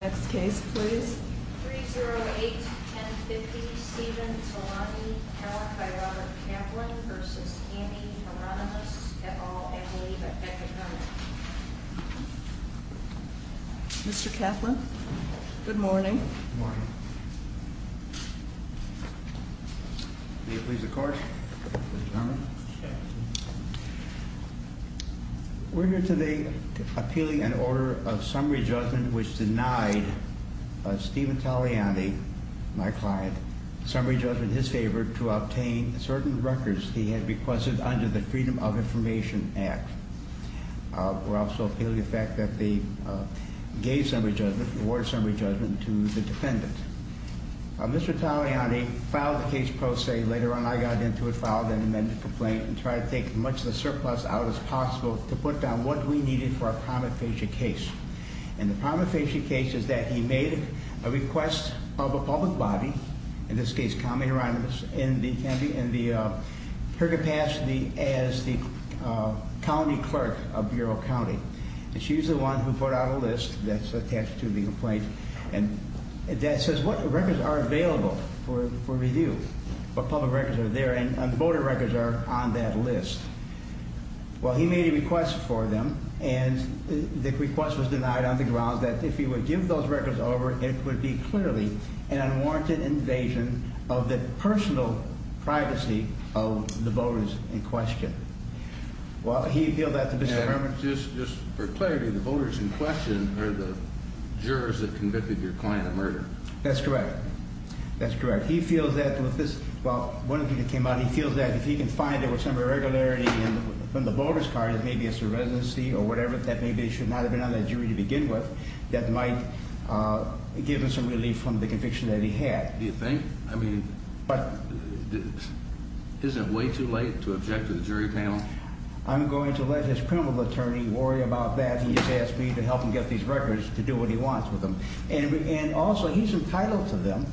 Next case please. 308-1050 Stephen Talani, power by Robert Kaplan v. Heironymus, et al. I believe at Beckett-Garment. Mr. Kaplan, good morning. Good morning. Will you please the court, Mr. Chairman. We're here today appealing an order of summary judgment which denied Stephen Taliani, my client, summary judgment in his favor to obtain certain records he had requested under the Freedom of Information Act. We're also appealing the fact that they gave summary judgment, awarded summary judgment to the defendant. Mr. Taliani filed the case pro se. Later on, I got into it, filed an amended complaint and tried to take as much of the surplus out as possible to put down what we needed for our prima facie case. And the prima facie case is that he made a request of a public body, in this case, Connie Heironymus, and her capacity as the county clerk of Bureau County. And she's the one who put out a list that's attached to the complaint that says what records are available for review, what public records are there, and voter records are on that list. Well, he made a request for them, and the request was denied on the grounds that if he would give those records over, it would be clearly an unwarranted invasion of the personal privacy of the voters in question. Well, he appealed that to Mr. Garment. Just for clarity, the voters in question are the jurors that convicted your client of murder. That's correct. That's correct. He feels that with this, well, one of the people that came out, he feels that if he can find there was some irregularity in the voter's card, maybe it's a residency or whatever, that maybe they should not have been on that jury to begin with, that might give him some relief from the conviction that he had. Do you think? I mean, isn't it way too late to object to the jury panel? I'm going to let his criminal attorney worry about that. He just asked me to help him get these records to do what he wants with them. And also, he's entitled to them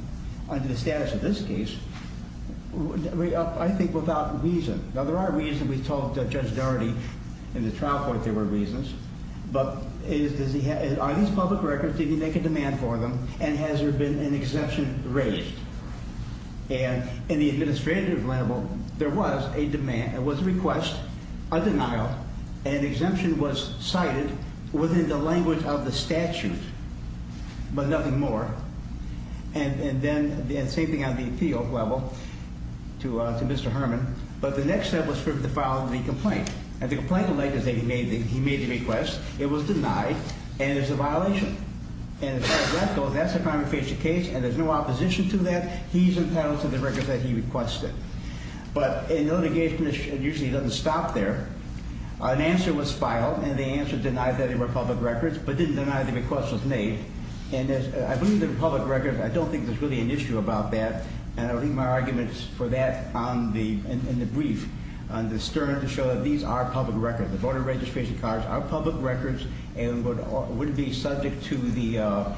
under the status of this case, I think, without reason. Now, there are reasons. We told Judge Doherty in the trial court there were reasons. But are these public records, did he make a demand for them, and has there been an exemption raised? And in the administrative level, there was a demand, it was a request, a denial, and an exemption was cited within the language of the statute, but nothing more. And then the same thing on the appeal level to Mr. Herman. But the next step was for him to file the complaint. And the complaint alleges that he made the request. It was denied, and it's a violation. And as far as that goes, that's a crime of facial case, and there's no opposition to that. He's entitled to the records that he requested. But in litigation, it usually doesn't stop there. An answer was filed, and the answer denied that they were public records, but didn't deny the request was made. And I believe the public records, I don't think there's really an issue about that. And I'll leave my arguments for that in the brief, on the stern, to show that these are public records. The voter registration cards are public records and would be subject to the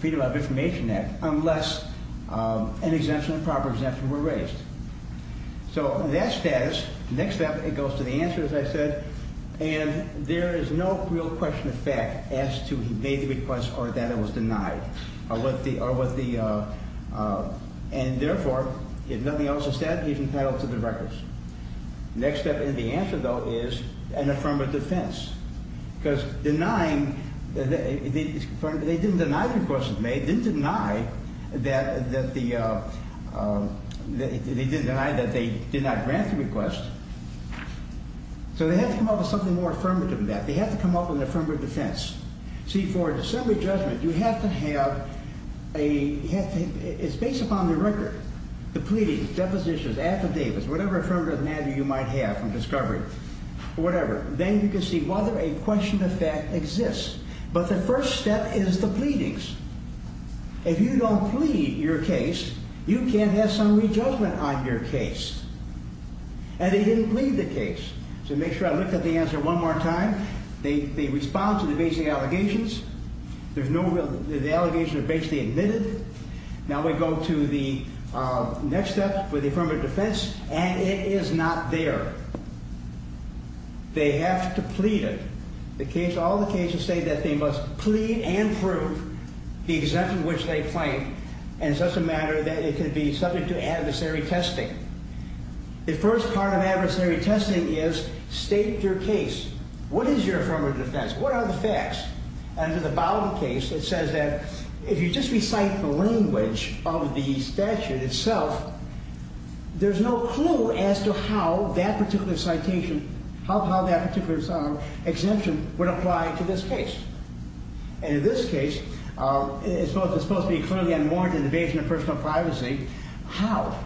Freedom of Information Act unless an exemption, a proper exemption, were raised. So that status, next step, it goes to the answer, as I said. And there is no real question of fact as to he made the request or that it was denied. And therefore, if nothing else is said, he's entitled to the records. Next step in the answer, though, is an affirmative defense. Because denying, they didn't deny the request was made. They didn't deny that they did not grant the request. So they have to come up with something more affirmative than that. They have to come up with an affirmative defense. See, for a dissembly judgment, you have to have a, it's based upon the record, the pleadings, depositions, affidavits, whatever affirmative matter you might have from discovery, whatever. Then you can see whether a question of fact exists. But the first step is the pleadings. If you don't plead your case, you can't have summary judgment on your case. And they didn't plead the case. So make sure I look at the answer one more time. They respond to the basic allegations. There's no real, the allegations are basically admitted. Now we go to the next step for the affirmative defense, and it is not there. They have to plead it. The case, all the cases say that they must plead and prove the exemption which they claim. And it's just a matter that it could be subject to adversary testing. The first part of adversary testing is state your case. What is your affirmative defense? What are the facts? Under the Bowden case, it says that if you just recite the language of the statute itself, there's no clue as to how that particular citation, how that particular exemption would apply to this case. And in this case, it's supposed to be clearly unwarranted invasion of personal privacy. How?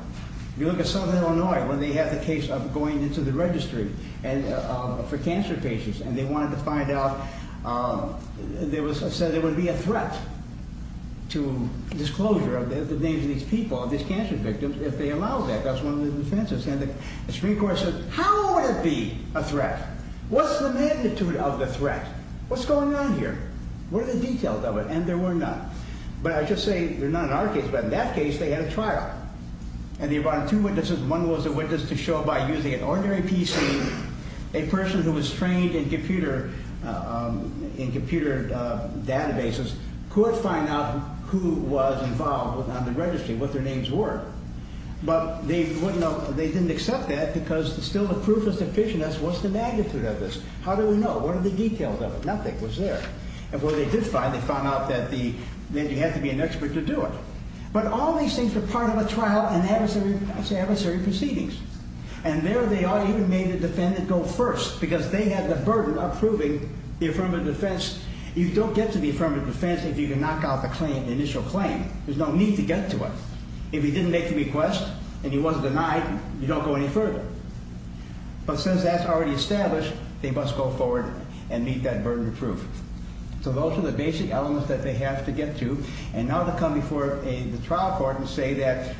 You look at Southern Illinois when they had the case of going into the registry for cancer patients, and they wanted to find out, said there would be a threat to disclosure of the names of these people, of these cancer victims, if they allowed that. That's one of the defenses. And the Supreme Court said, how would it be a threat? What's the magnitude of the threat? What's going on here? What are the details of it? And there were none. But I just say they're not in our case. But in that case, they had a trial. And they brought in two witnesses. One was a witness to show by using an ordinary PC, a person who was trained in computer databases, could find out who was involved on the registry, what their names were. But they didn't accept that because still the proof was deficient. What's the magnitude of this? How do we know? What are the details of it? Nothing was there. And what they did find, they found out that you had to be an expert to do it. But all these things were part of a trial and adversary proceedings. And there they are, even made a defendant go first because they had the burden of proving the affirmative defense. You don't get to the affirmative defense if you can knock out the claim, the initial claim. There's no need to get to it. If he didn't make the request and he wasn't denied, you don't go any further. But since that's already established, they must go forward and meet that burden of proof. So those are the basic elements that they have to get to. And now they come before the trial court and say that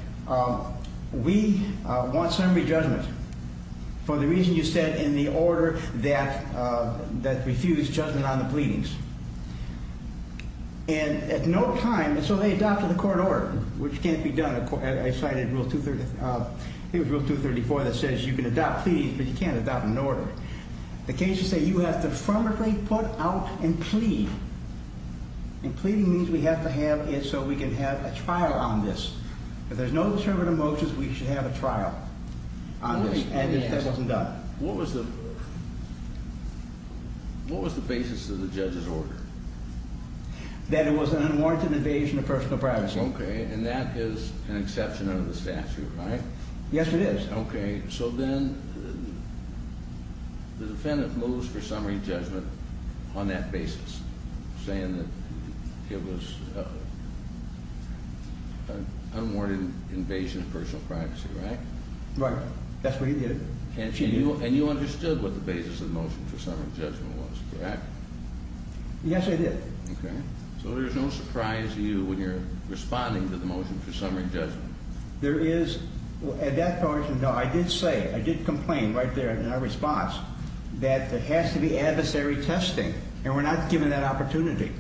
we want summary judgment for the reason you said in the order that refused judgment on the pleadings. And at no time, so they adopted a court order, which can't be done. I cited Rule 234 that says you can adopt pleadings, but you can't adopt an order. The cases say you have to affirmatively put out and plead. And pleading means we have to have it so we can have a trial on this. If there's no deterrent of motions, we should have a trial on this, and if that wasn't done. What was the basis of the judge's order? That it was an unwarranted invasion of personal privacy. Okay, and that is an exception under the statute, right? Yes, it is. Okay, so then the defendant moves for summary judgment on that basis, saying that it was an unwarranted invasion of personal privacy, right? Right, that's what he did. And you understood what the basis of the motion for summary judgment was, correct? Yes, I did. Okay, so there's no surprise to you when you're responding to the motion for summary judgment. There is, at that point, no, I did say, I did complain right there in our response that there has to be adversary testing, and we're not given that opportunity.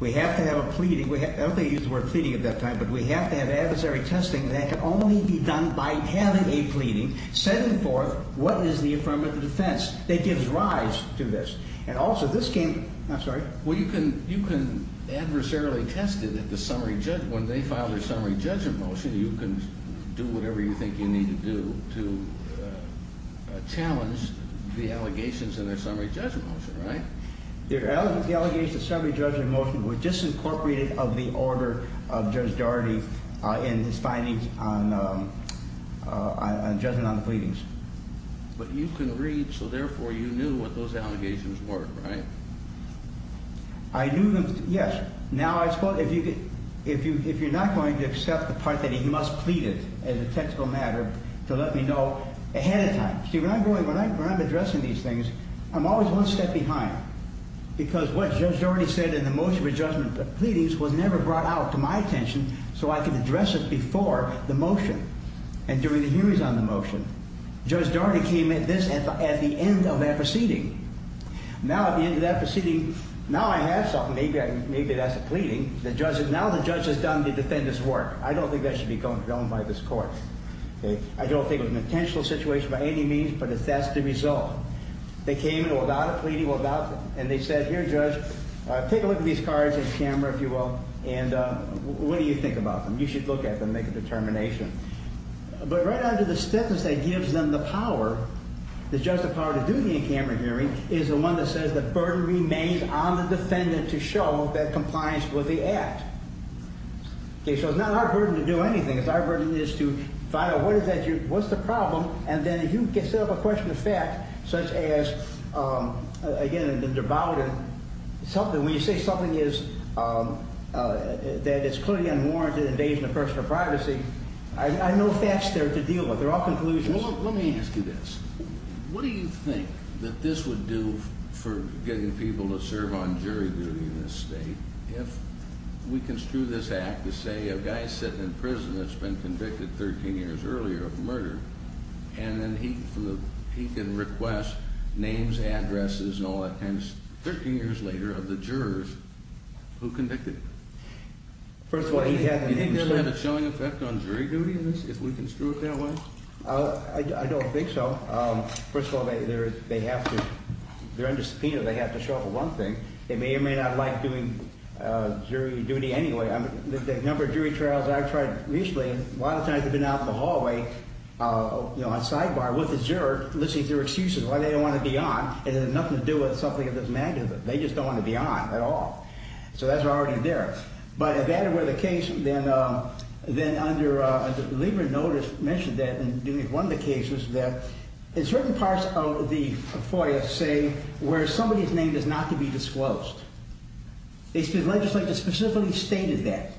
We have to have a pleading. I don't think they used the word pleading at that time, but we have to have adversary testing, and that can only be done by having a pleading, setting forth what is the affirmative defense that gives rise to this. Well, you can adversarially test it at the summary judgment. When they file their summary judgment motion, you can do whatever you think you need to do to challenge the allegations in their summary judgment motion, right? The allegations in the summary judgment motion were disincorporated of the order of Judge Daugherty in his findings on judgment on the pleadings. But you can read, so therefore you knew what those allegations were, right? I knew them, yes. Now, if you're not going to accept the part that he must plead it as a technical matter to let me know ahead of time. See, when I'm addressing these things, I'm always one step behind because what Judge Daugherty said in the motion for judgment of the pleadings was never brought out to my attention so I could address it before the motion and during the hearings on the motion. Judge Daugherty came at this at the end of that proceeding. Now, at the end of that proceeding, now I have something. Maybe that's a pleading. Now the judge has done the defendant's work. I don't think that should be confirmed by this court. I don't think it was an intentional situation by any means, but that's the result. They came in without a pleading, and they said, here, Judge, take a look at these cards and camera, if you will, and what do you think about them? You should look at them, make a determination. But right out of the stiffness that gives them the power, the power to do the in-camera hearing is the one that says the burden remains on the defendant to show that compliance with the act. So it's not our burden to do anything. It's our burden is to find out what's the problem, and then you can set up a question of fact such as, again, the devout and something. When you say something is that it's clearly unwarranted invasion of personal privacy, I have no facts there to deal with. They're all conclusions. Let me ask you this. What do you think that this would do for getting people to serve on jury duty in this state if we construe this act to say a guy is sitting in prison that's been convicted 13 years earlier of murder, and then he can request names, addresses, and all that kind of stuff 13 years later of the jurors who convicted him? First of all, he had a name. Do you think that would have a showing effect on jury duty in this if we construe it that way? I don't think so. First of all, they're under subpoena. They have to show up for one thing. They may or may not like doing jury duty anyway. The number of jury trials I've tried recently, a lot of times they've been out in the hallway on sidebar with the juror listening to their excuses, why they don't want to be on, and it has nothing to do with something of this magnitude. They just don't want to be on at all. So that's already there. But if that were the case, then under Lieber notice mentioned that in one of the cases that in certain parts of the FOIA say where somebody's name is not to be disclosed. The legislature specifically stated that.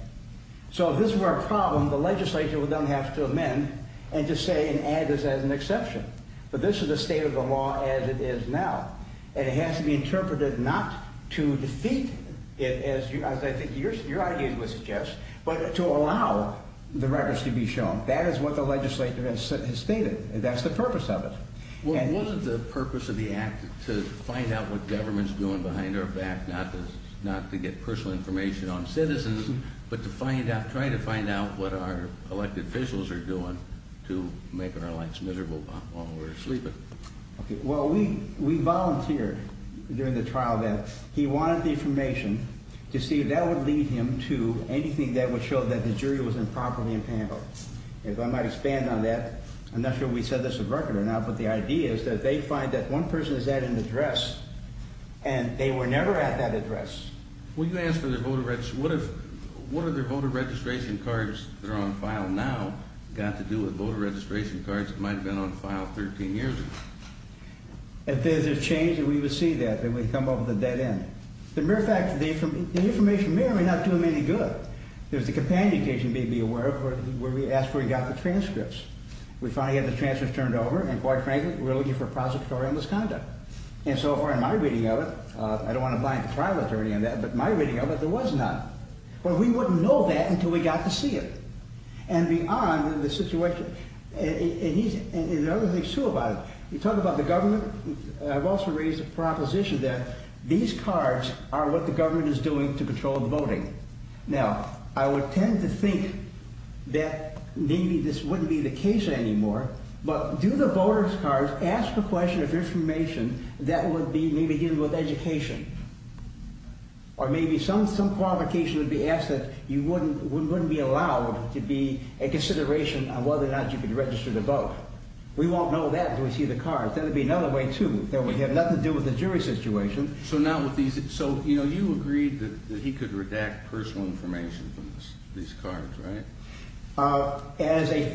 So if this were a problem, the legislature would then have to amend and just say and add this as an exception. But this is the state of the law as it is now, and it has to be interpreted not to defeat it, as I think your idea would suggest, but to allow the records to be shown. That is what the legislature has stated. That's the purpose of it. What is the purpose of the act to find out what government's doing behind our back, not to get personal information on citizens, but to try to find out what our elected officials are doing to making our lives miserable while we're sleeping? OK, well, we we volunteer during the trial that he wanted the information to see that would lead him to anything that would show that the jury was improperly impounded. If I might expand on that, I'm not sure we said this a record or not, but the idea is that they find that one person is at an address and they were never at that address. Will you ask for their voter registration? What if what are their voter registration cards that are on file now got to do with voter registration cards? It might have been on file 13 years ago. If there's a change that we would see that then we come up with a dead end. The mere fact that the information may or may not do him any good. There's the companion case you may be aware of where we asked where he got the transcripts. We finally had the transcripts turned over. And quite frankly, we're looking for prosecutorial misconduct. And so far in my reading of it, I don't want to blame the trial attorney on that. But my reading of it, there was not. Well, we wouldn't know that until we got to see it. And beyond the situation and the other things too about it. You talk about the government. I've also raised a proposition that these cards are what the government is doing to control the voting. Now, I would tend to think that maybe this wouldn't be the case anymore. But do the voter's cards ask a question of information that would be maybe given with education. Or maybe some qualification would be asked that you wouldn't be allowed to be a consideration on whether or not you could register to vote. We won't know that until we see the cards. That would be another way too that would have nothing to do with the jury situation. So, you know, you agreed that he could redact personal information from these cards, right? As a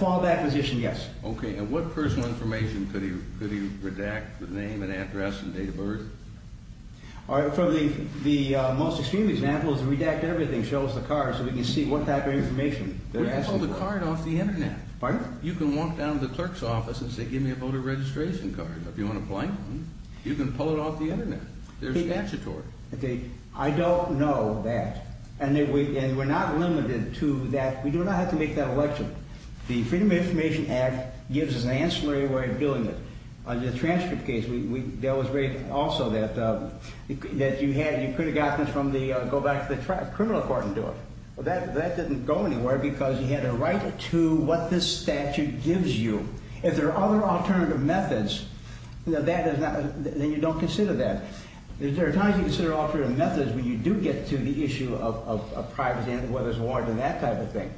fallback position, yes. Okay. And what personal information could he redact? The name and address and date of birth? From the most extreme examples, redact everything. Show us the cards so we can see what type of information. You can pull the card off the Internet. You can walk down to the clerk's office and say, give me a voter registration card. If you want to play, you can pull it off the Internet. They're statutory. Okay. I don't know that. And we're not limited to that. We do not have to make that election. The Freedom of Information Act gives us an ancillary way of doing it. Under the transcript case, there was also that you could have gotten this from the criminal court and do it. Well, that didn't go anywhere because you had a right to what this statute gives you. If there are other alternative methods, then you don't consider that. There are times you consider alternative methods when you do get to the issue of privacy and whether it's warranted, that type of thing.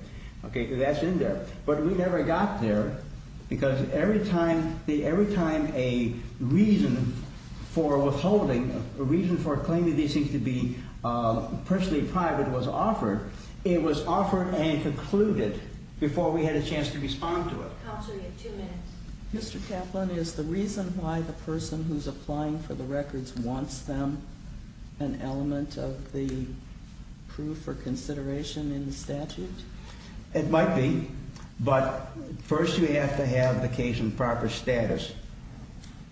That's in there. But we never got there because every time a reason for withholding, a reason for claiming these things to be personally private was offered, it was offered and concluded before we had a chance to respond to it. Counsel, you have two minutes. Mr. Kaplan, is the reason why the person who's applying for the records wants them an element of the proof or consideration in the statute? It might be, but first you have to have the case in proper status.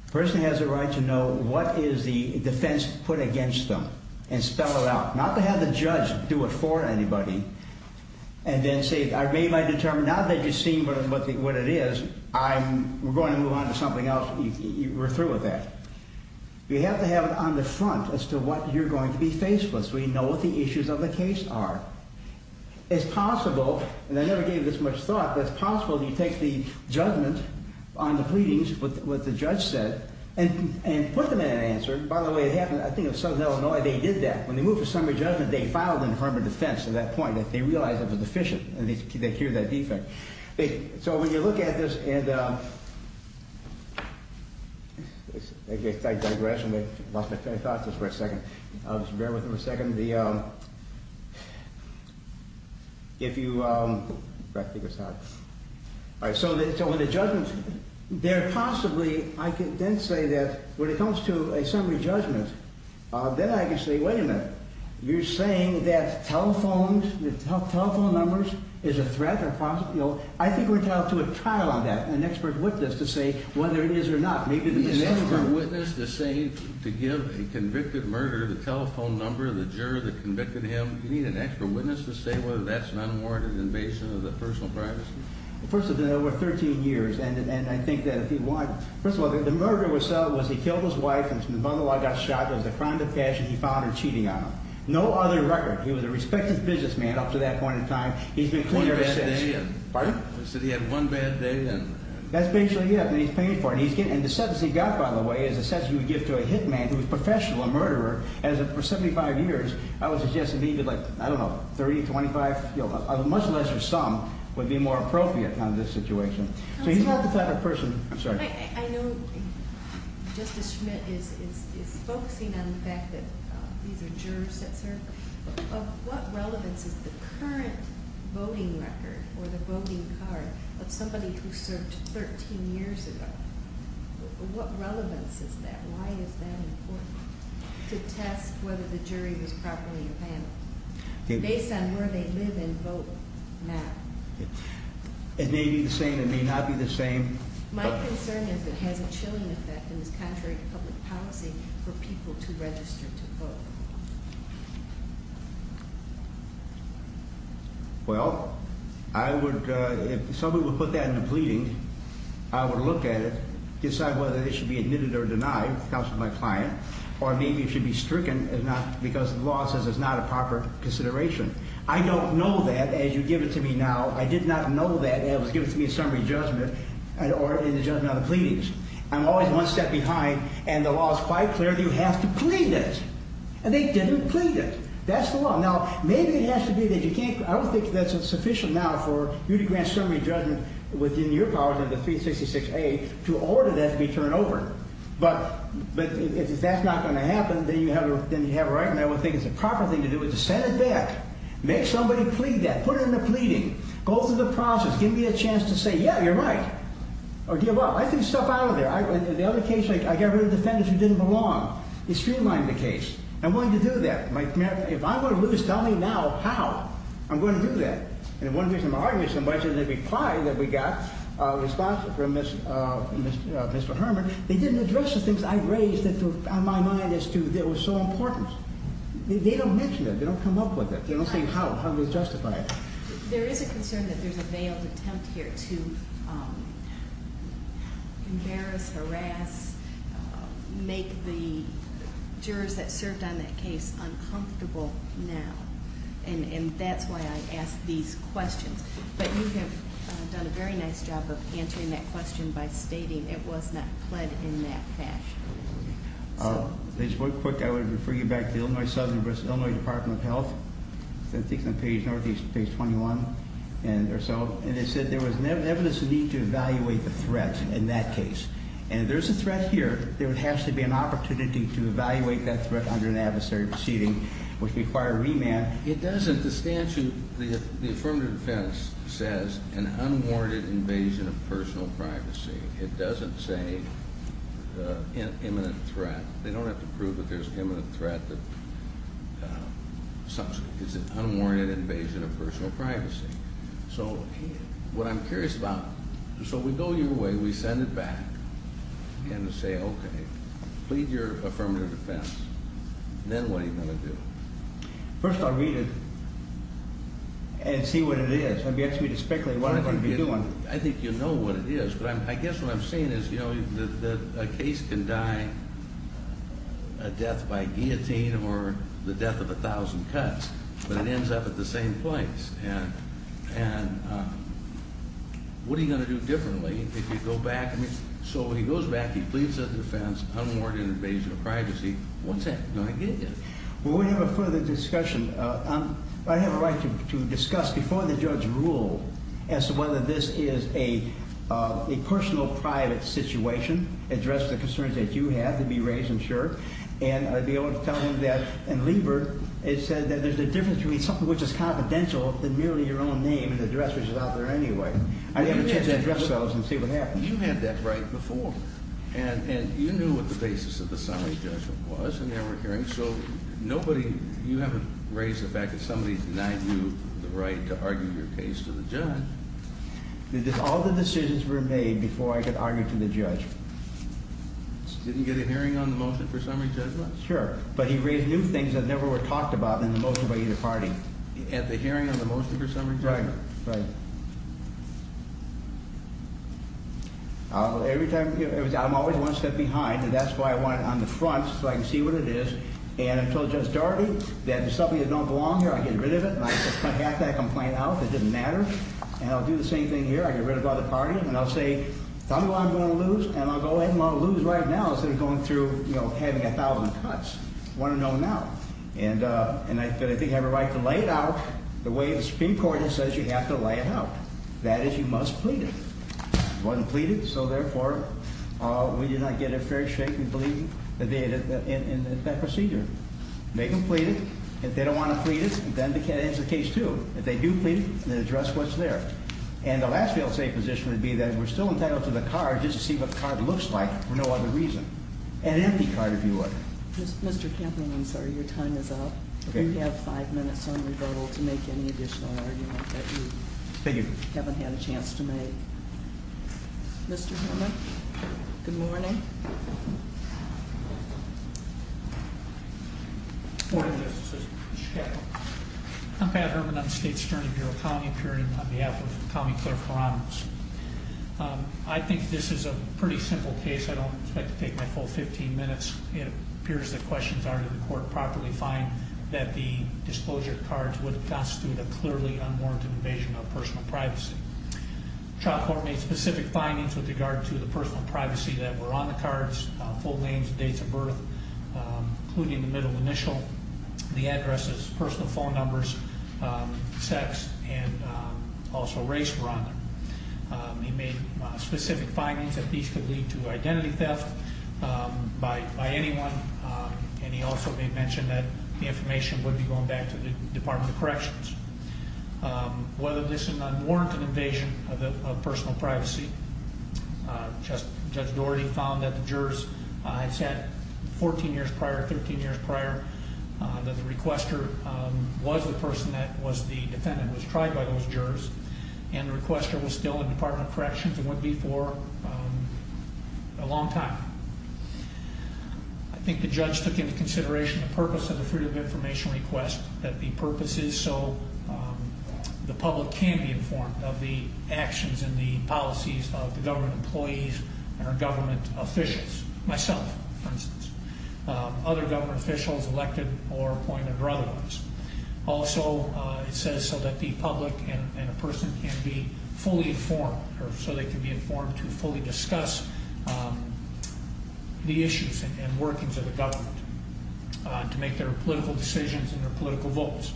The person has a right to know what is the defense put against them and spell it out. Not to have the judge do it for anybody and then say, I've made my determination. Now that you've seen what it is, we're going to move on to something else. We're through with that. You have to have it on the front as to what you're going to be faced with so you know what the issues of the case are. It's possible, and I never gave this much thought, but it's possible that you take the judgment on the pleadings, what the judge said, and put them in an answer. By the way, it happened, I think, in Southern Illinois, they did that. When they moved the summary judgment, they filed in the Department of Defense at that point. They realized it was deficient. They cured that defect. So when you look at this, and I digress. I lost my train of thought just for a second. Just bear with me for a second. All right, so in the judgment, there possibly, I can then say that when it comes to a summary judgment, then I can say, wait a minute. You're saying that telephone numbers is a threat? I think we're entitled to a trial on that, an expert witness to say whether it is or not. Do you need an expert witness to say, to give a convicted murderer the telephone number of the juror that convicted him? Do you need an expert witness to say whether that's an unwarranted invasion of the personal privacy? First of all, it's been over 13 years, and I think that if you want, first of all, the murder itself was he killed his wife, and from the bundle I got shot. It was a crime of passion. He found her cheating on him. No other record. He was a respected businessman up to that point in time. He's been clean ever since. One bad day? Pardon? You said he had one bad day? That's basically it. And the sentence he got, by the way, is a sentence he would give to a hit man who was professional, a murderer, for 75 years. I would suggest that maybe, like, I don't know, 30, 25, a much lesser sum would be more appropriate in this situation. So he's not the type of person. I'm sorry. I know Justice Schmidt is focusing on the fact that these are jurors that served. Of what relevance is the current voting record or the voting card of somebody who served 13 years ago? What relevance is that? Why is that important? To test whether the jury was properly evaluated based on where they live and vote now. It may be the same. It may not be the same. My concern is it has a chilling effect and is contrary to public policy for people to register to vote. Well, I would, if somebody would put that in the pleading, I would look at it, decide whether it should be admitted or denied because of my client, or maybe it should be stricken because the law says it's not a proper consideration. I don't know that. As you give it to me now, I did not know that. It was given to me in summary judgment or in the judgment of the pleadings. I'm always one step behind, and the law is quite clear that you have to plead it. And they didn't plead it. That's the law. Now, maybe it has to be that you can't. I don't think that's sufficient now for you to grant summary judgment within your powers of the 366A to order that to be turned over. But if that's not going to happen, then you have a right, and I would think it's a proper thing to do is to send it back. Make somebody plead that. Put it in the pleading. Go through the process. Give me a chance to say, yeah, you're right. Or, dear, well, I threw stuff out of there. In the other case, I got rid of the defendants who didn't belong. You streamlined the case. I'm willing to do that. If I'm going to lose, tell me now how I'm going to do that. And one reason I'm arguing so much is in the reply that we got from Mr. Herman, they didn't address the things I raised in my mind as to what was so important. They don't mention it. They don't come up with it. They don't say how to justify it. There is a concern that there's a veiled attempt here to embarrass, harass, make the jurors that served on that case uncomfortable now. And that's why I ask these questions. But you have done a very nice job of answering that question by stating it was not pled in that fashion. Just real quick, I would refer you back to the Illinois Department of Health. I think it's on page 21 or so. And it said there was evidence of need to evaluate the threat in that case. And if there's a threat here, there has to be an opportunity to evaluate that threat under an adversary proceeding, which required remand. It doesn't. The statute, the affirmative defense says an unwarranted invasion of personal privacy. It doesn't say imminent threat. They don't have to prove that there's an imminent threat. It's an unwarranted invasion of personal privacy. So what I'm curious about, so we go your way. We send it back and say, okay, plead your affirmative defense. Then what are you going to do? First I'll read it and see what it is. I've yet to read the speculate. What am I going to be doing? I think you know what it is. But I guess what I'm saying is, you know, that a case can die a death by guillotine or the death of a thousand cuts. But it ends up at the same place. And what are you going to do differently if you go back? So when he goes back, he pleads his defense, unwarranted invasion of privacy. What's that going to get you? Well, we have a further discussion. I have a right to discuss before the judge rule as to whether this is a personal private situation, address the concerns that you have to be raised and sure. And I'd be able to tell him that. And Lieber has said that there's a difference between something which is confidential and merely your own name and address, which is out there anyway. I'd have a chance to address those and see what happens. You had that right before. And you knew what the basis of the summary judgment was in that hearing. So nobody, you haven't raised the fact that somebody denied you the right to argue your case to the judge. All the decisions were made before I could argue to the judge. Didn't get a hearing on the motion for summary judgment? Sure. But he raised new things that never were talked about in the motion by either party. At the hearing on the motion for summary judgment? Right, right. Every time, I'm always one step behind, and that's why I want it on the front so I can see what it is. And I told Judge Daugherty that there's something that don't belong here. I get rid of it. And I just cut half that complaint out. It didn't matter. And I'll do the same thing here. I get rid of the other party. And I'll say, tell me what I'm going to lose. And I'll go ahead and I'll lose right now instead of going through, you know, having a thousand cuts. I want to know now. And I think I have a right to lay it out the way the Supreme Court says you have to lay it out. That is, you must plead it. It wasn't pleaded, so, therefore, we did not get a fair shake in that procedure. They can plead it. If they don't want to plead it, then it ends the case, too. If they do plead it, then address what's there. And the last fail-safe position would be that we're still entitled to the card just to see what the card looks like for no other reason. An empty card, if you would. Mr. Campbell, I'm sorry. Your time is up. You have five minutes on rebuttal to make any additional argument that you haven't had a chance to make. Mr. Herman, good morning. I'm Pat Herman. I'm the State's Attorney, Bureau of County Appearance on behalf of County Clerk for Honors. I think this is a pretty simple case. I don't expect to take my full 15 minutes. It appears that questions are to the court properly find that the disclosure of cards would constitute a clearly unwarranted invasion of personal privacy. The trial court made specific findings with regard to the personal privacy that were on the cards, full names, dates of birth, including the middle initial, the addresses, personal phone numbers, sex, and also race were on them. They made specific findings that these could lead to identity theft by anyone. And he also made mention that the information would be going back to the Department of Corrections. Whether this is an unwarranted invasion of personal privacy, Judge Doherty found that the jurors had said 14 years prior, 13 years prior, that the requester was the person that was the defendant was tried by those jurors. And the requester was still in the Department of Corrections and would be for a long time. I think the judge took into consideration the purpose of the Freedom of Information request, that the purpose is so the public can be informed of the actions and the policies of the government employees and our government officials. Myself, for instance. Other government officials elected or appointed or otherwise. Also, it says so that the public and a person can be fully informed or so they can be informed to fully discuss the issues and workings of the government to make their political decisions and their political votes.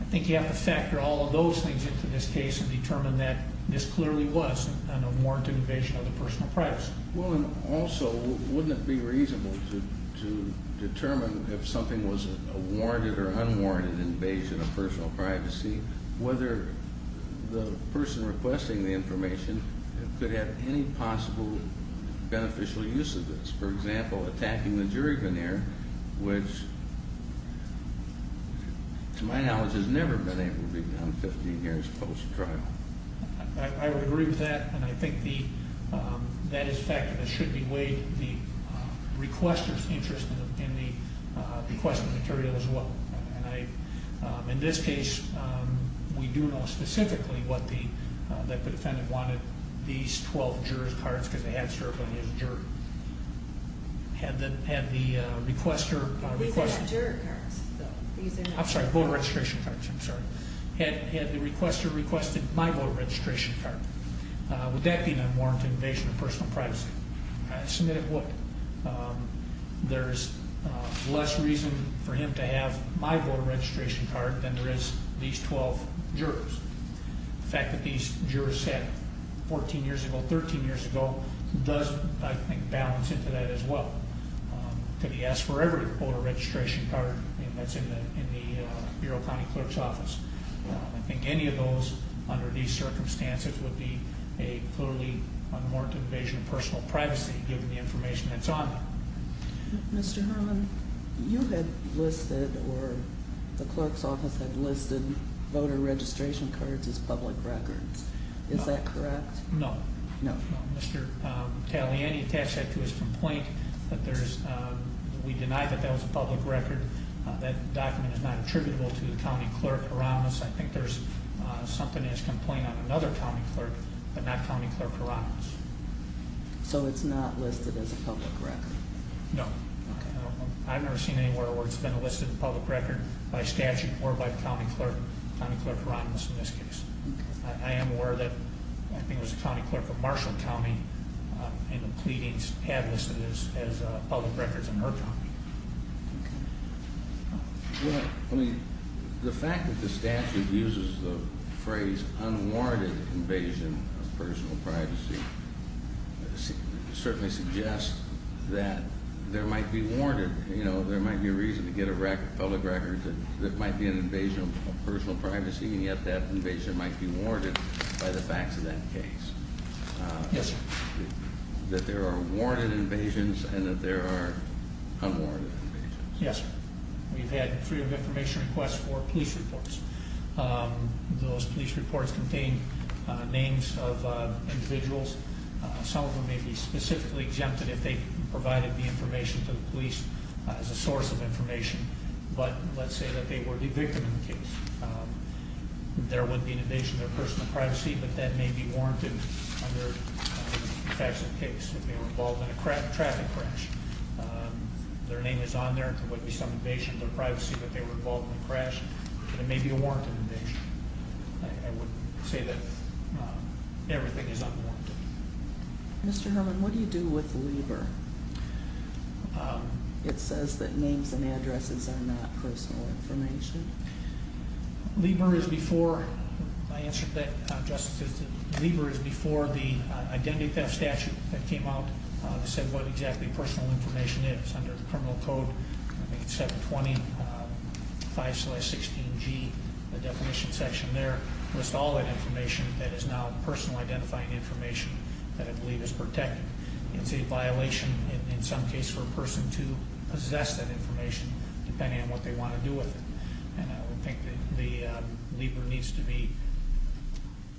I think you have to factor all of those things into this case and determine that this clearly was an unwarranted invasion of the personal privacy. Also, wouldn't it be reasonable to determine if something was a warranted or unwarranted invasion of personal privacy, whether the person requesting the information could have any possible beneficial use of this? For example, attacking the jury veneer, which to my knowledge has never been able to be done 15 years post-trial. I would agree with that. And I think that is a factor that should be weighed in the requester's interest in the requested material as well. In this case, we do know specifically that the defendant wanted these 12 jurors cards because they had served on his juror. Had the requester requested. These are not juror cards. I'm sorry. Had the requester requested my voter registration card, would that be an unwarranted invasion of personal privacy? There's less reason for him to have my voter registration card than there is these 12 jurors. The fact that these jurors sat 14 years ago, 13 years ago does, I think, balance into that as well. Could he ask for every voter registration card that's in the Bureau of County Clerk's Office? I think any of those under these circumstances would be a clearly unwarranted invasion of personal privacy, given the information that's on them. Mr. Herman, you had listed or the clerk's office had listed voter registration cards as public records. Is that correct? No. No. Mr. Tagliani attached that to his complaint. We deny that that was a public record. That document is not attributable to the county clerk erroneous. I think there's something in his complaint on another county clerk, but not county clerk erroneous. So it's not listed as a public record? No. Okay. I've never seen anywhere where it's been listed as a public record by statute or by county clerk, county clerk erroneous in this case. I am aware that I think it was the county clerk of Marshall County in the pleadings had listed it as public records in her county. Okay. Well, I mean, the fact that the statute uses the phrase unwarranted invasion of personal privacy certainly suggests that there might be warranted, you know, there might be a reason to get a public record that might be an invasion of personal privacy, and yet that invasion might be warranted by the facts of that case. Yes, sir. That there are warranted invasions and that there are unwarranted invasions. Yes, sir. We've had three of information requests for police reports. Those police reports contain names of individuals. Some of them may be specifically exempted if they provided the information to the police as a source of information. But let's say that they were the victim in the case. There would be an invasion of their personal privacy, but that may be warranted under the facts of the case. They were involved in a traffic crash. Their name is on there. There would be some invasion of their privacy, but they were involved in a crash. It may be a warranted invasion. I would say that everything is unwarranted. Mr. Herman, what do you do with Lieber? It says that names and addresses are not personal information. Lieber is before, I answered that, Justice, Lieber is before the Identity Theft Statute that came out that said what exactly personal information is. Under the criminal code, I think it's 720-516-G, the definition section there, lists all that information that is now personal identifying information that I believe is protected. It's a violation in some case for a person to possess that information depending on what they want to do with it. And I would think that Lieber needs to be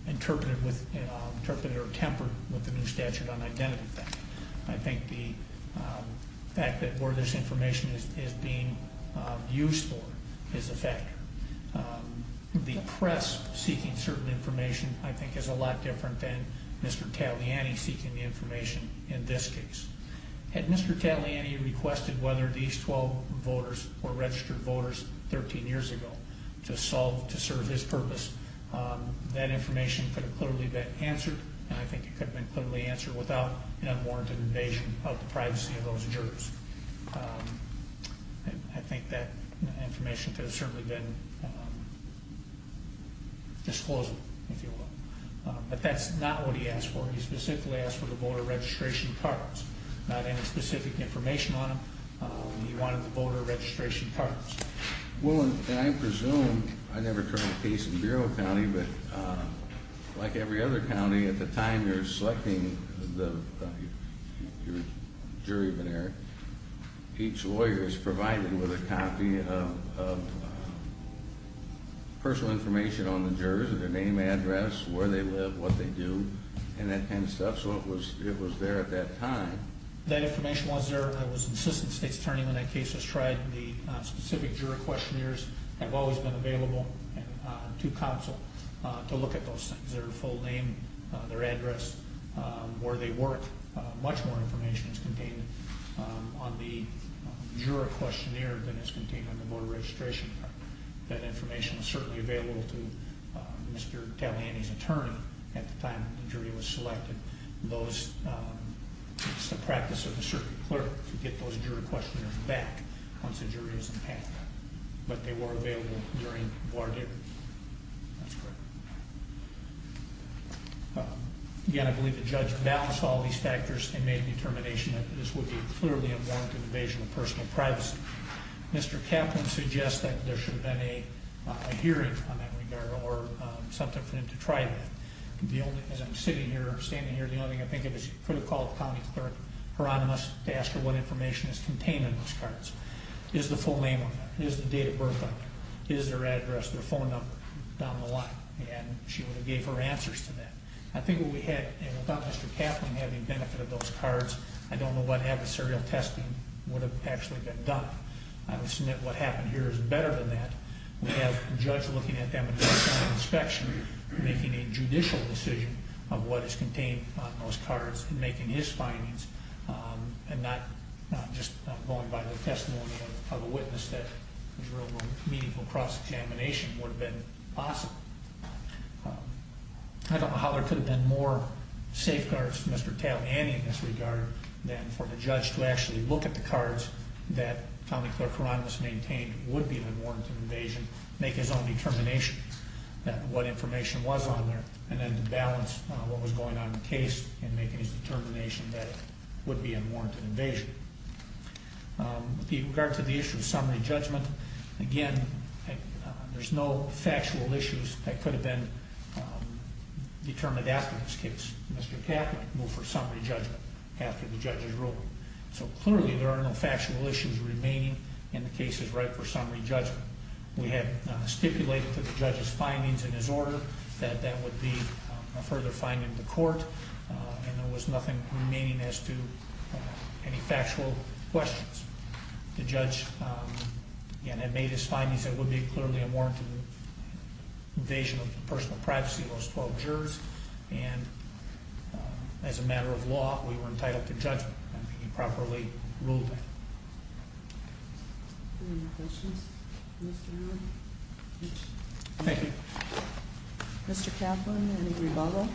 interpreted or tempered with the new statute on identity theft. I think the fact that where this information is being used for is a factor. The press seeking certain information, I think, is a lot different than Mr. Taliani seeking the information in this case. Had Mr. Taliani requested whether these 12 voters were registered voters 13 years ago to serve his purpose, that information could have clearly been answered, and I think it could have been clearly answered without an unwarranted invasion of the privacy of those jurors. I think that information could have certainly been disclosed, if you will. But that's not what he asked for. He specifically asked for the voter registration cards, not any specific information on them. He wanted the voter registration cards. Well, I presume, I never turned a case in Bureau County, but like every other county, at the time you're selecting your jury of an error, each lawyer is provided with a copy of personal information on the jurors, their name, address, where they live, what they do, and that kind of stuff. So it was there at that time. That information was there, and I was an assistant state's attorney when that case was tried. The specific juror questionnaires have always been available to counsel to look at those things, their full name, their address, where they work. Much more information is contained on the juror questionnaire than is contained on the voter registration card. That information was certainly available to Mr. Taliani's attorney at the time the jury was selected. It's the practice of the circuit clerk to get those juror questionnaires back once the jury is in the path. But they were available during the ward hearing. That's correct. Again, I believe the judge balanced all these factors and made a determination that this would be clearly a warranted evasion of personal privacy. Mr. Kaplan suggests that there should have been a hearing on that regard or something for him to try that. As I'm sitting here, standing here, the only thing I think of is for the call of the county clerk, Hieronymus, to ask her what information is contained on those cards. Is the full name on them? Is the date of birth on them? Is their address, their phone number down the line? And she would have gave her answers to that. I think what we had, without Mr. Kaplan having benefited those cards, I don't know what adversarial testing would have actually been done. I would submit what happened here is better than that. We have a judge looking at them and doing an inspection, making a judicial decision of what is contained on those cards, and making his findings, and not just going by the testimony of a witness. That is where a meaningful cross-examination would have been possible. I don't know how there could have been more safeguards for Mr. Kaplan in this regard than for the judge to actually look at the cards that county clerk Hieronymus maintained would be an unwarranted invasion, make his own determination that what information was on there, and then to balance what was going on in the case and making his determination that it would be an unwarranted invasion. With regard to the issue of summary judgment, again, there's no factual issues that could have been determined after this case. Mr. Kaplan could move for summary judgment after the judge's ruling. So clearly, there are no factual issues remaining in the case as right for summary judgment. We had stipulated to the judge's findings in his order that that would be a further finding to court, and there was nothing remaining as to any factual questions. The judge, again, had made his findings that it would be clearly a warranted invasion of personal privacy of those 12 jurors, and as a matter of law, we were entitled to judgment if he properly ruled that. Any more questions? Thank you. Mr. Kaplan, any rebuttal?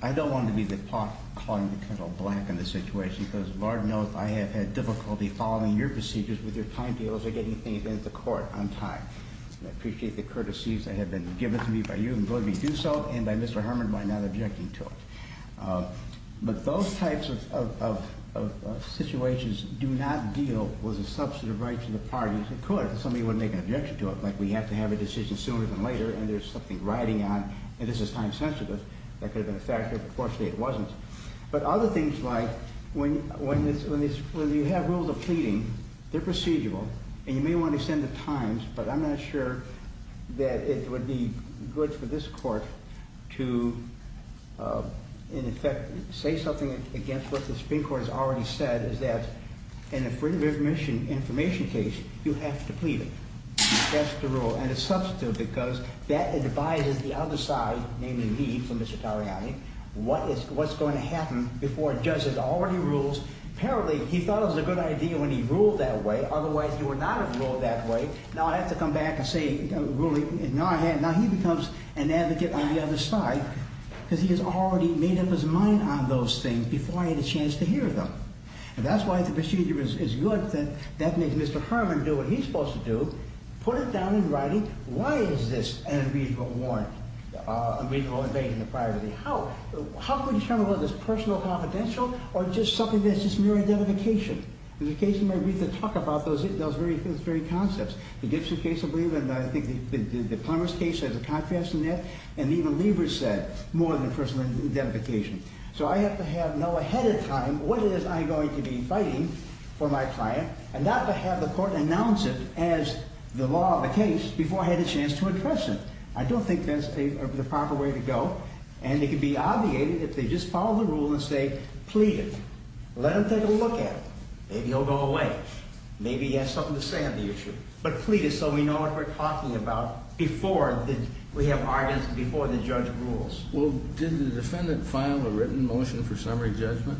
I don't want to be the pot calling the kettle black in this situation, because Lord knows I have had difficulty following your procedures with your time deals or getting things into court on time. I appreciate the courtesies that have been given to me by you, and I'm going to do so, and by Mr. Herman, by not objecting to it. But those types of situations do not deal with the substantive rights of the parties. Of course, somebody would make an objection to it, like we have to have a decision sooner than later, and there's something riding on, and this is time sensitive. That could have been a factor. Unfortunately, it wasn't. But other things like when you have rules of pleading, they're procedural, and you may want to extend the times, but I'm not sure that it would be good for this court to, in effect, say something against what the Supreme Court has already said, is that in a freedom of information case, you have to plead it. That's the rule, and it's substantive, because that advises the other side, namely me, for Mr. Tariani, what's going to happen before a judge has already ruled. Apparently, he thought it was a good idea when he ruled that way. Otherwise, he would not have ruled that way. Now I have to come back and say, now he becomes an advocate on the other side, because he has already made up his mind on those things before I had a chance to hear them. And that's why if the procedure is good, then that makes Mr. Herman do what he's supposed to do, put it down in writing, why is this an unreasonable invasion of privacy? How can we determine whether it's personal or confidential, or just something that's just mere identification? There's a case in my brief that talks about those very concepts. The Gibson case, I believe, and I think the Plumbers case has a contrast in that, and even Lever said, more than personal identification. So I have to know ahead of time what it is I'm going to be fighting for my client, and not to have the court announce it as the law of the case before I had a chance to address it. I don't think that's the proper way to go, and it could be obviated if they just follow the rule and say, plead it, let them take a look at it. Maybe he'll go away. Maybe he has something to say on the issue. But plead it so we know what we're talking about before we have arguments before the judge rules. Well, did the defendant file a written motion for summary judgment?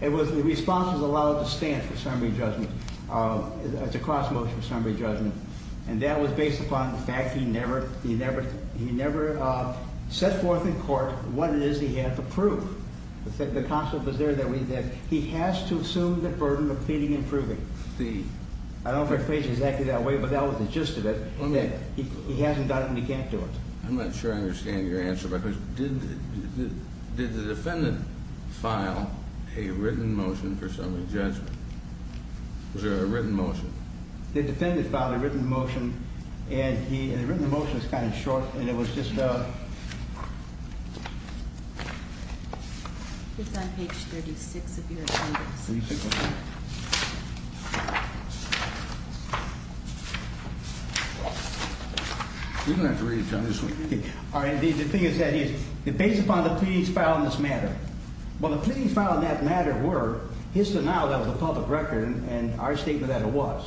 The response was allowed to stand for summary judgment. It's a cross-motion summary judgment. And that was based upon the fact he never set forth in court what it is he had to prove. The concept was there that he has to assume the burden of pleading and proving. I don't know if it's phrased exactly that way, but that was the gist of it. He hasn't done it, and he can't do it. I'm not sure I understand your answer, because did the defendant file a written motion for summary judgment? Was there a written motion? The defendant filed a written motion, and the written motion is kind of short, and it was just a... It's on page 36 of your appendix. 36? You're going to have to read it, John. All right. The thing is that it's based upon the pleadings filed in this matter. Well, the pleadings filed in that matter were his denial that it was a public record, and our statement that it was.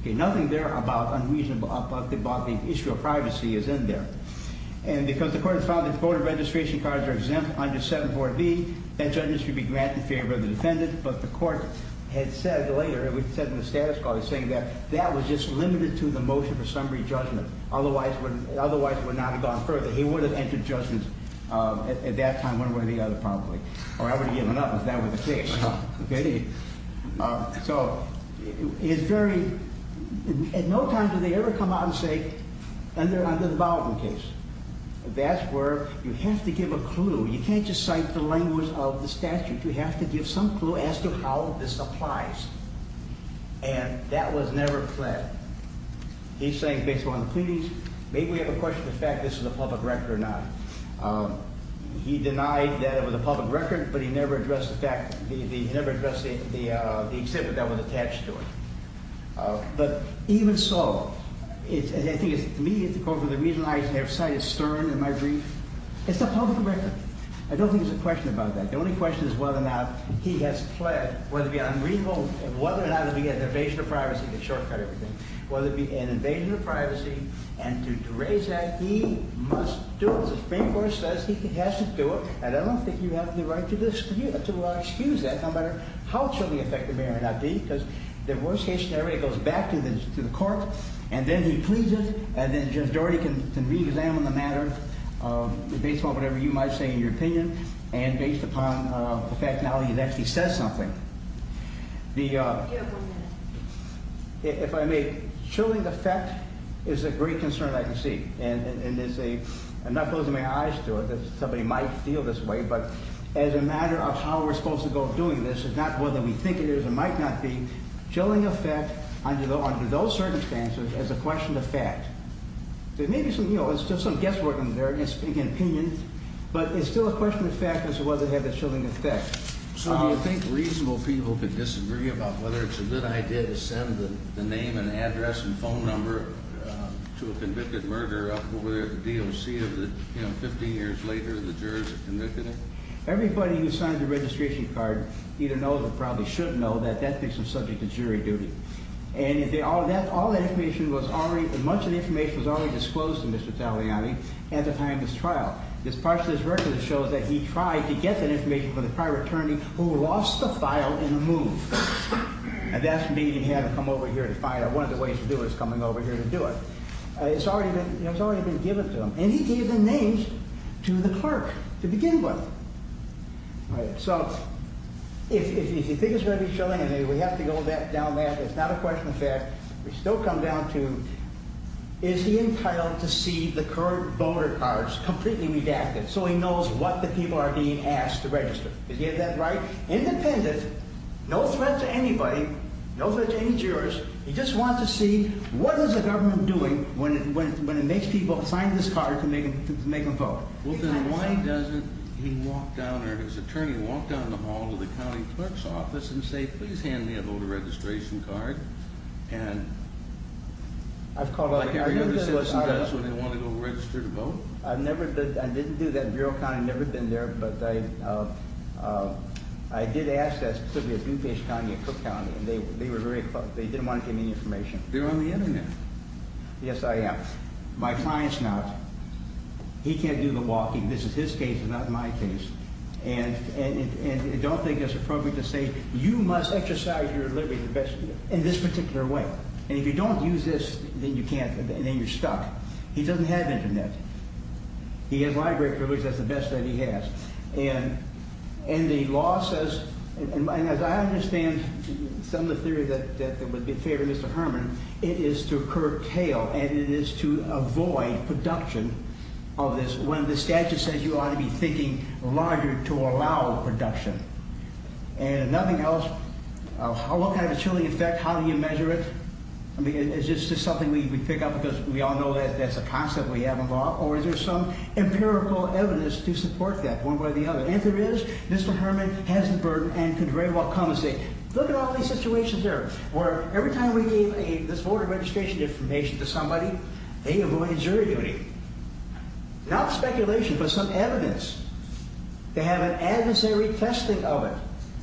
Okay, nothing there about the issue of privacy is in there. And because the court has found that voter registration cards are exempt under 74B, that judgment should be granted in favor of the defendant. But the court had said later, and we said in the status quo, they're saying that that was just limited to the motion for summary judgment. Otherwise, it would not have gone further. He would have entered judgment at that time, one way or the other, probably. Or I would have given up if that were the case. So it's very... At no time do they ever come out and say, under the Baldwin case. That's where you have to give a clue. You can't just cite the language of the statute. You have to give some clue as to how this applies. And that was never said. He's saying based upon the pleadings, maybe we have a question of the fact this is a public record or not. He denied that it was a public record, but he never addressed the fact, he never addressed the exhibit that was attached to it. But even so, I think it's immediate to call for the reason I have cited Stern in my brief. It's a public record. I don't think there's a question about that. The only question is whether or not he has pled, whether it be on removal, whether or not it be an invasion of privacy, to shortcut everything, whether it be an invasion of privacy, and to raise that, he must do it. The Supreme Court says he has to do it. And I don't think you have the right to excuse that, no matter how chilling the fact may or may not be, because the worst case scenario goes back to the court, and then he pleads it, and then Judge Doherty can re-examine the matter based upon whatever you might say in your opinion, and based upon the fact now that he's actually said something. If I may, chilling the fact is a great concern I can see, and I'm not closing my eyes to it that somebody might feel this way, but as a matter of how we're supposed to go doing this, it's not whether we think it is or might not be. Chilling the fact under those circumstances is a question of fact. There may be some, you know, it's just some guesswork in there, and it's speaking opinions, but it's still a question of fact as to whether it had a chilling effect. So do you think reasonable people could disagree about whether it's a good idea to send the name and address and phone number to a convicted murderer up over there at the D.O.C. of the, you know, 15 years later, the jurors are convicted? Everybody who signs the registration card either knows or probably should know that that person is subject to jury duty, and all that information was already, much of the information was already disclosed to Mr. Taliani at the time of his trial. This part of his record shows that he tried to get that information from the prior attorney who lost the file in the move, and that's when he had to come over here to find out one of the ways to do it is coming over here to do it. It's already been, you know, it's already been given to him, and he gave the names to the clerk to begin with. All right, so if you think it's going to be chilling, and we have to go down that, it's not a question of fact, we still come down to is he entitled to see the current voter cards completely redacted so he knows what the people are being asked to register? Does he have that right? Independent, no threat to anybody, no threat to any jurors, he just wants to see what is the government doing when it makes people sign this card to make them vote? Well, then why doesn't he walk down, or his attorney walk down the hall to the county clerk's office and say, please hand me a voter registration card, and like every other citizen does when they want to go register to vote? I've never, I didn't do that in Bureau County, I've never been there, but I did ask that, and they didn't want to give me any information. You're on the Internet. Yes, I am. My client's not. He can't do the walking. This is his case, not my case, and I don't think it's appropriate to say, you must exercise your liberty in this particular way, and if you don't use this, then you're stuck. He doesn't have Internet. He has library privilege, that's the best that he has, and the law says, and as I understand some of the theory that would be fair to Mr. Herman, it is to curtail and it is to avoid production of this when the statute says you ought to be thinking larger to allow production, and nothing else. How long can I have a chilling effect? How do you measure it? I mean, is this just something we pick up because we all know that's a concept we have in law, or is there some empirical evidence to support that one way or the other, and if there is, Mr. Herman has the burden and can very well compensate. Look at all these situations here where every time we gave this voter registration information to somebody, they avoided jury duty. Not speculation, but some evidence. They have an adversary testing of it.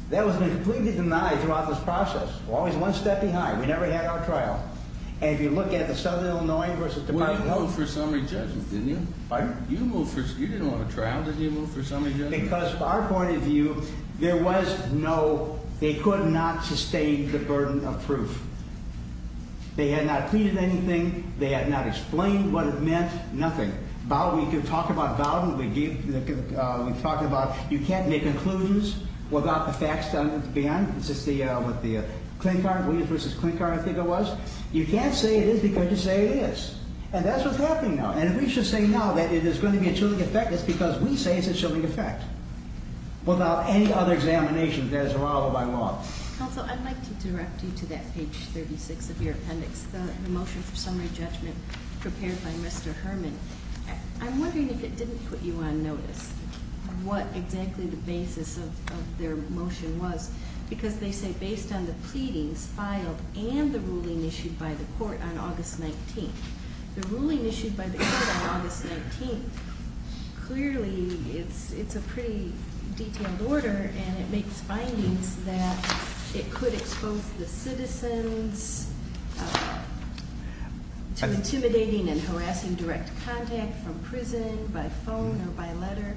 That has been completely denied throughout this process. We're always one step behind. We never had our trial, and if you look at the Southern Illinois v. Department of Justice. Well, you moved for summary judgment, didn't you? Pardon? You didn't want a trial. Didn't you move for summary judgment? Because from our point of view, there was no— they could not sustain the burden of proof. They had not pleaded anything. They had not explained what it meant. Nothing. We can talk about Bowden. We talked about you can't make conclusions without the facts done at the end. Is this what the Williams v. Klinkar, I think it was? You can't say it is because you say it is, and that's what's happening now, and if we should say now that it is going to be a chilling effect, it's because we say it's a chilling effect without any other examinations as a rival by law. Counsel, I'd like to direct you to that page 36 of your appendix, the motion for summary judgment prepared by Mr. Herman. I'm wondering if it didn't put you on notice of what exactly the basis of their motion was because they say based on the pleadings filed and the ruling issued by the court on August 19th, clearly it's a pretty detailed order and it makes findings that it could expose the citizens to intimidating and harassing direct contact from prison by phone or by letter.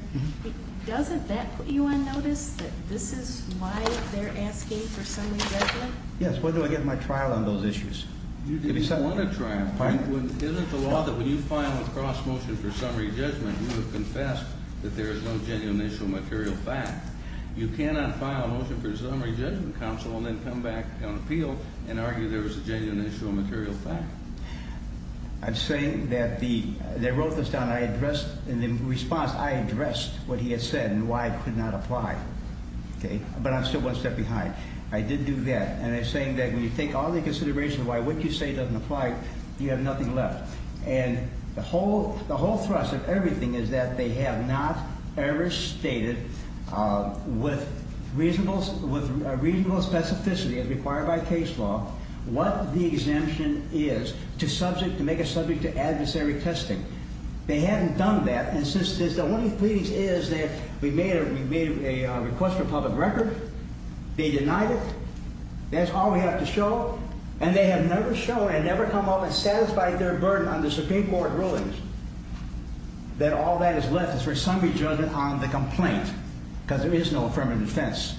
Doesn't that put you on notice that this is why they're asking for summary judgment? Yes. When do I get my trial on those issues? You didn't want a trial. Isn't the law that when you file a cross-motion for summary judgment, you have confessed that there is no genuine issue of material fact? You cannot file a motion for summary judgment, Counsel, and then come back on appeal and argue there was a genuine issue of material fact. I'm saying that they wrote this down, and in response I addressed what he had said and why it could not apply, but I'm still one step behind. I did do that, and I'm saying that when you take all the considerations of why what you say doesn't apply, you have nothing left. And the whole thrust of everything is that they have not ever stated with reasonable specificity as required by case law what the exemption is to make a subject to adversary testing. They haven't done that, and since the only pleadings is that we made a request for a public record, they denied it. That's all we have to show, and they have never shown and never come up and satisfied their burden on the Supreme Court rulings that all that is left is for summary judgment on the complaint because there is no affirmative defense.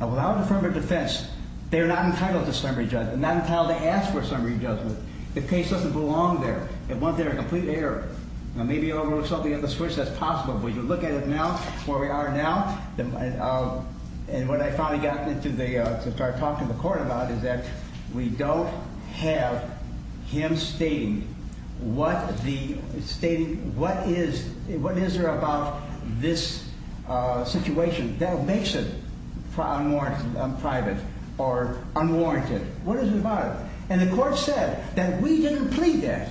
Now, without affirmative defense, they are not entitled to summary judgment, not entitled to ask for summary judgment. The case doesn't belong there. It went there in complete error. Now, maybe you overlooked something on the switch. That's possible, but if you look at it now, where we are now, and what I finally got to start talking to the court about is that we don't have him stating what is there about this situation that makes it private or unwarranted. What is it about it? And the court said that we didn't plead that.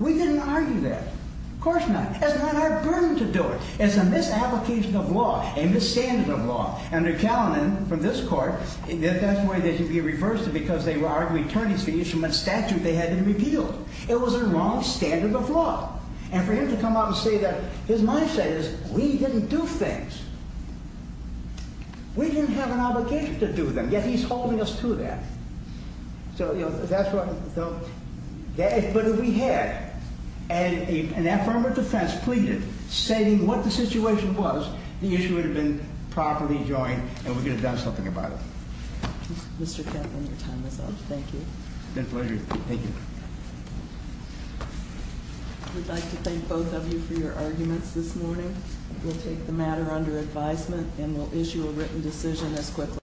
We didn't argue that. Of course not. It's not our burden to do it. It's a misapplication of law, a misstandard of law. Under Callinan, from this court, that's why they should be reversed because they were arguing attorneys for each and what statute they had to repeal. It was a wrong standard of law. And for him to come out and say that, his mindset is, we didn't do things. We didn't have an obligation to do them, yet he's holding us to that. So, you know, that's what... But if we had an affirmative defense pleaded stating what the situation was, the issue would have been properly joined and we could have done something about it. Mr. Kaplan, your time is up. Thank you. It's been a pleasure. Thank you. I would like to thank both of you for your arguments this morning. We'll take the matter under advisement and we'll issue a written decision as quickly as possible.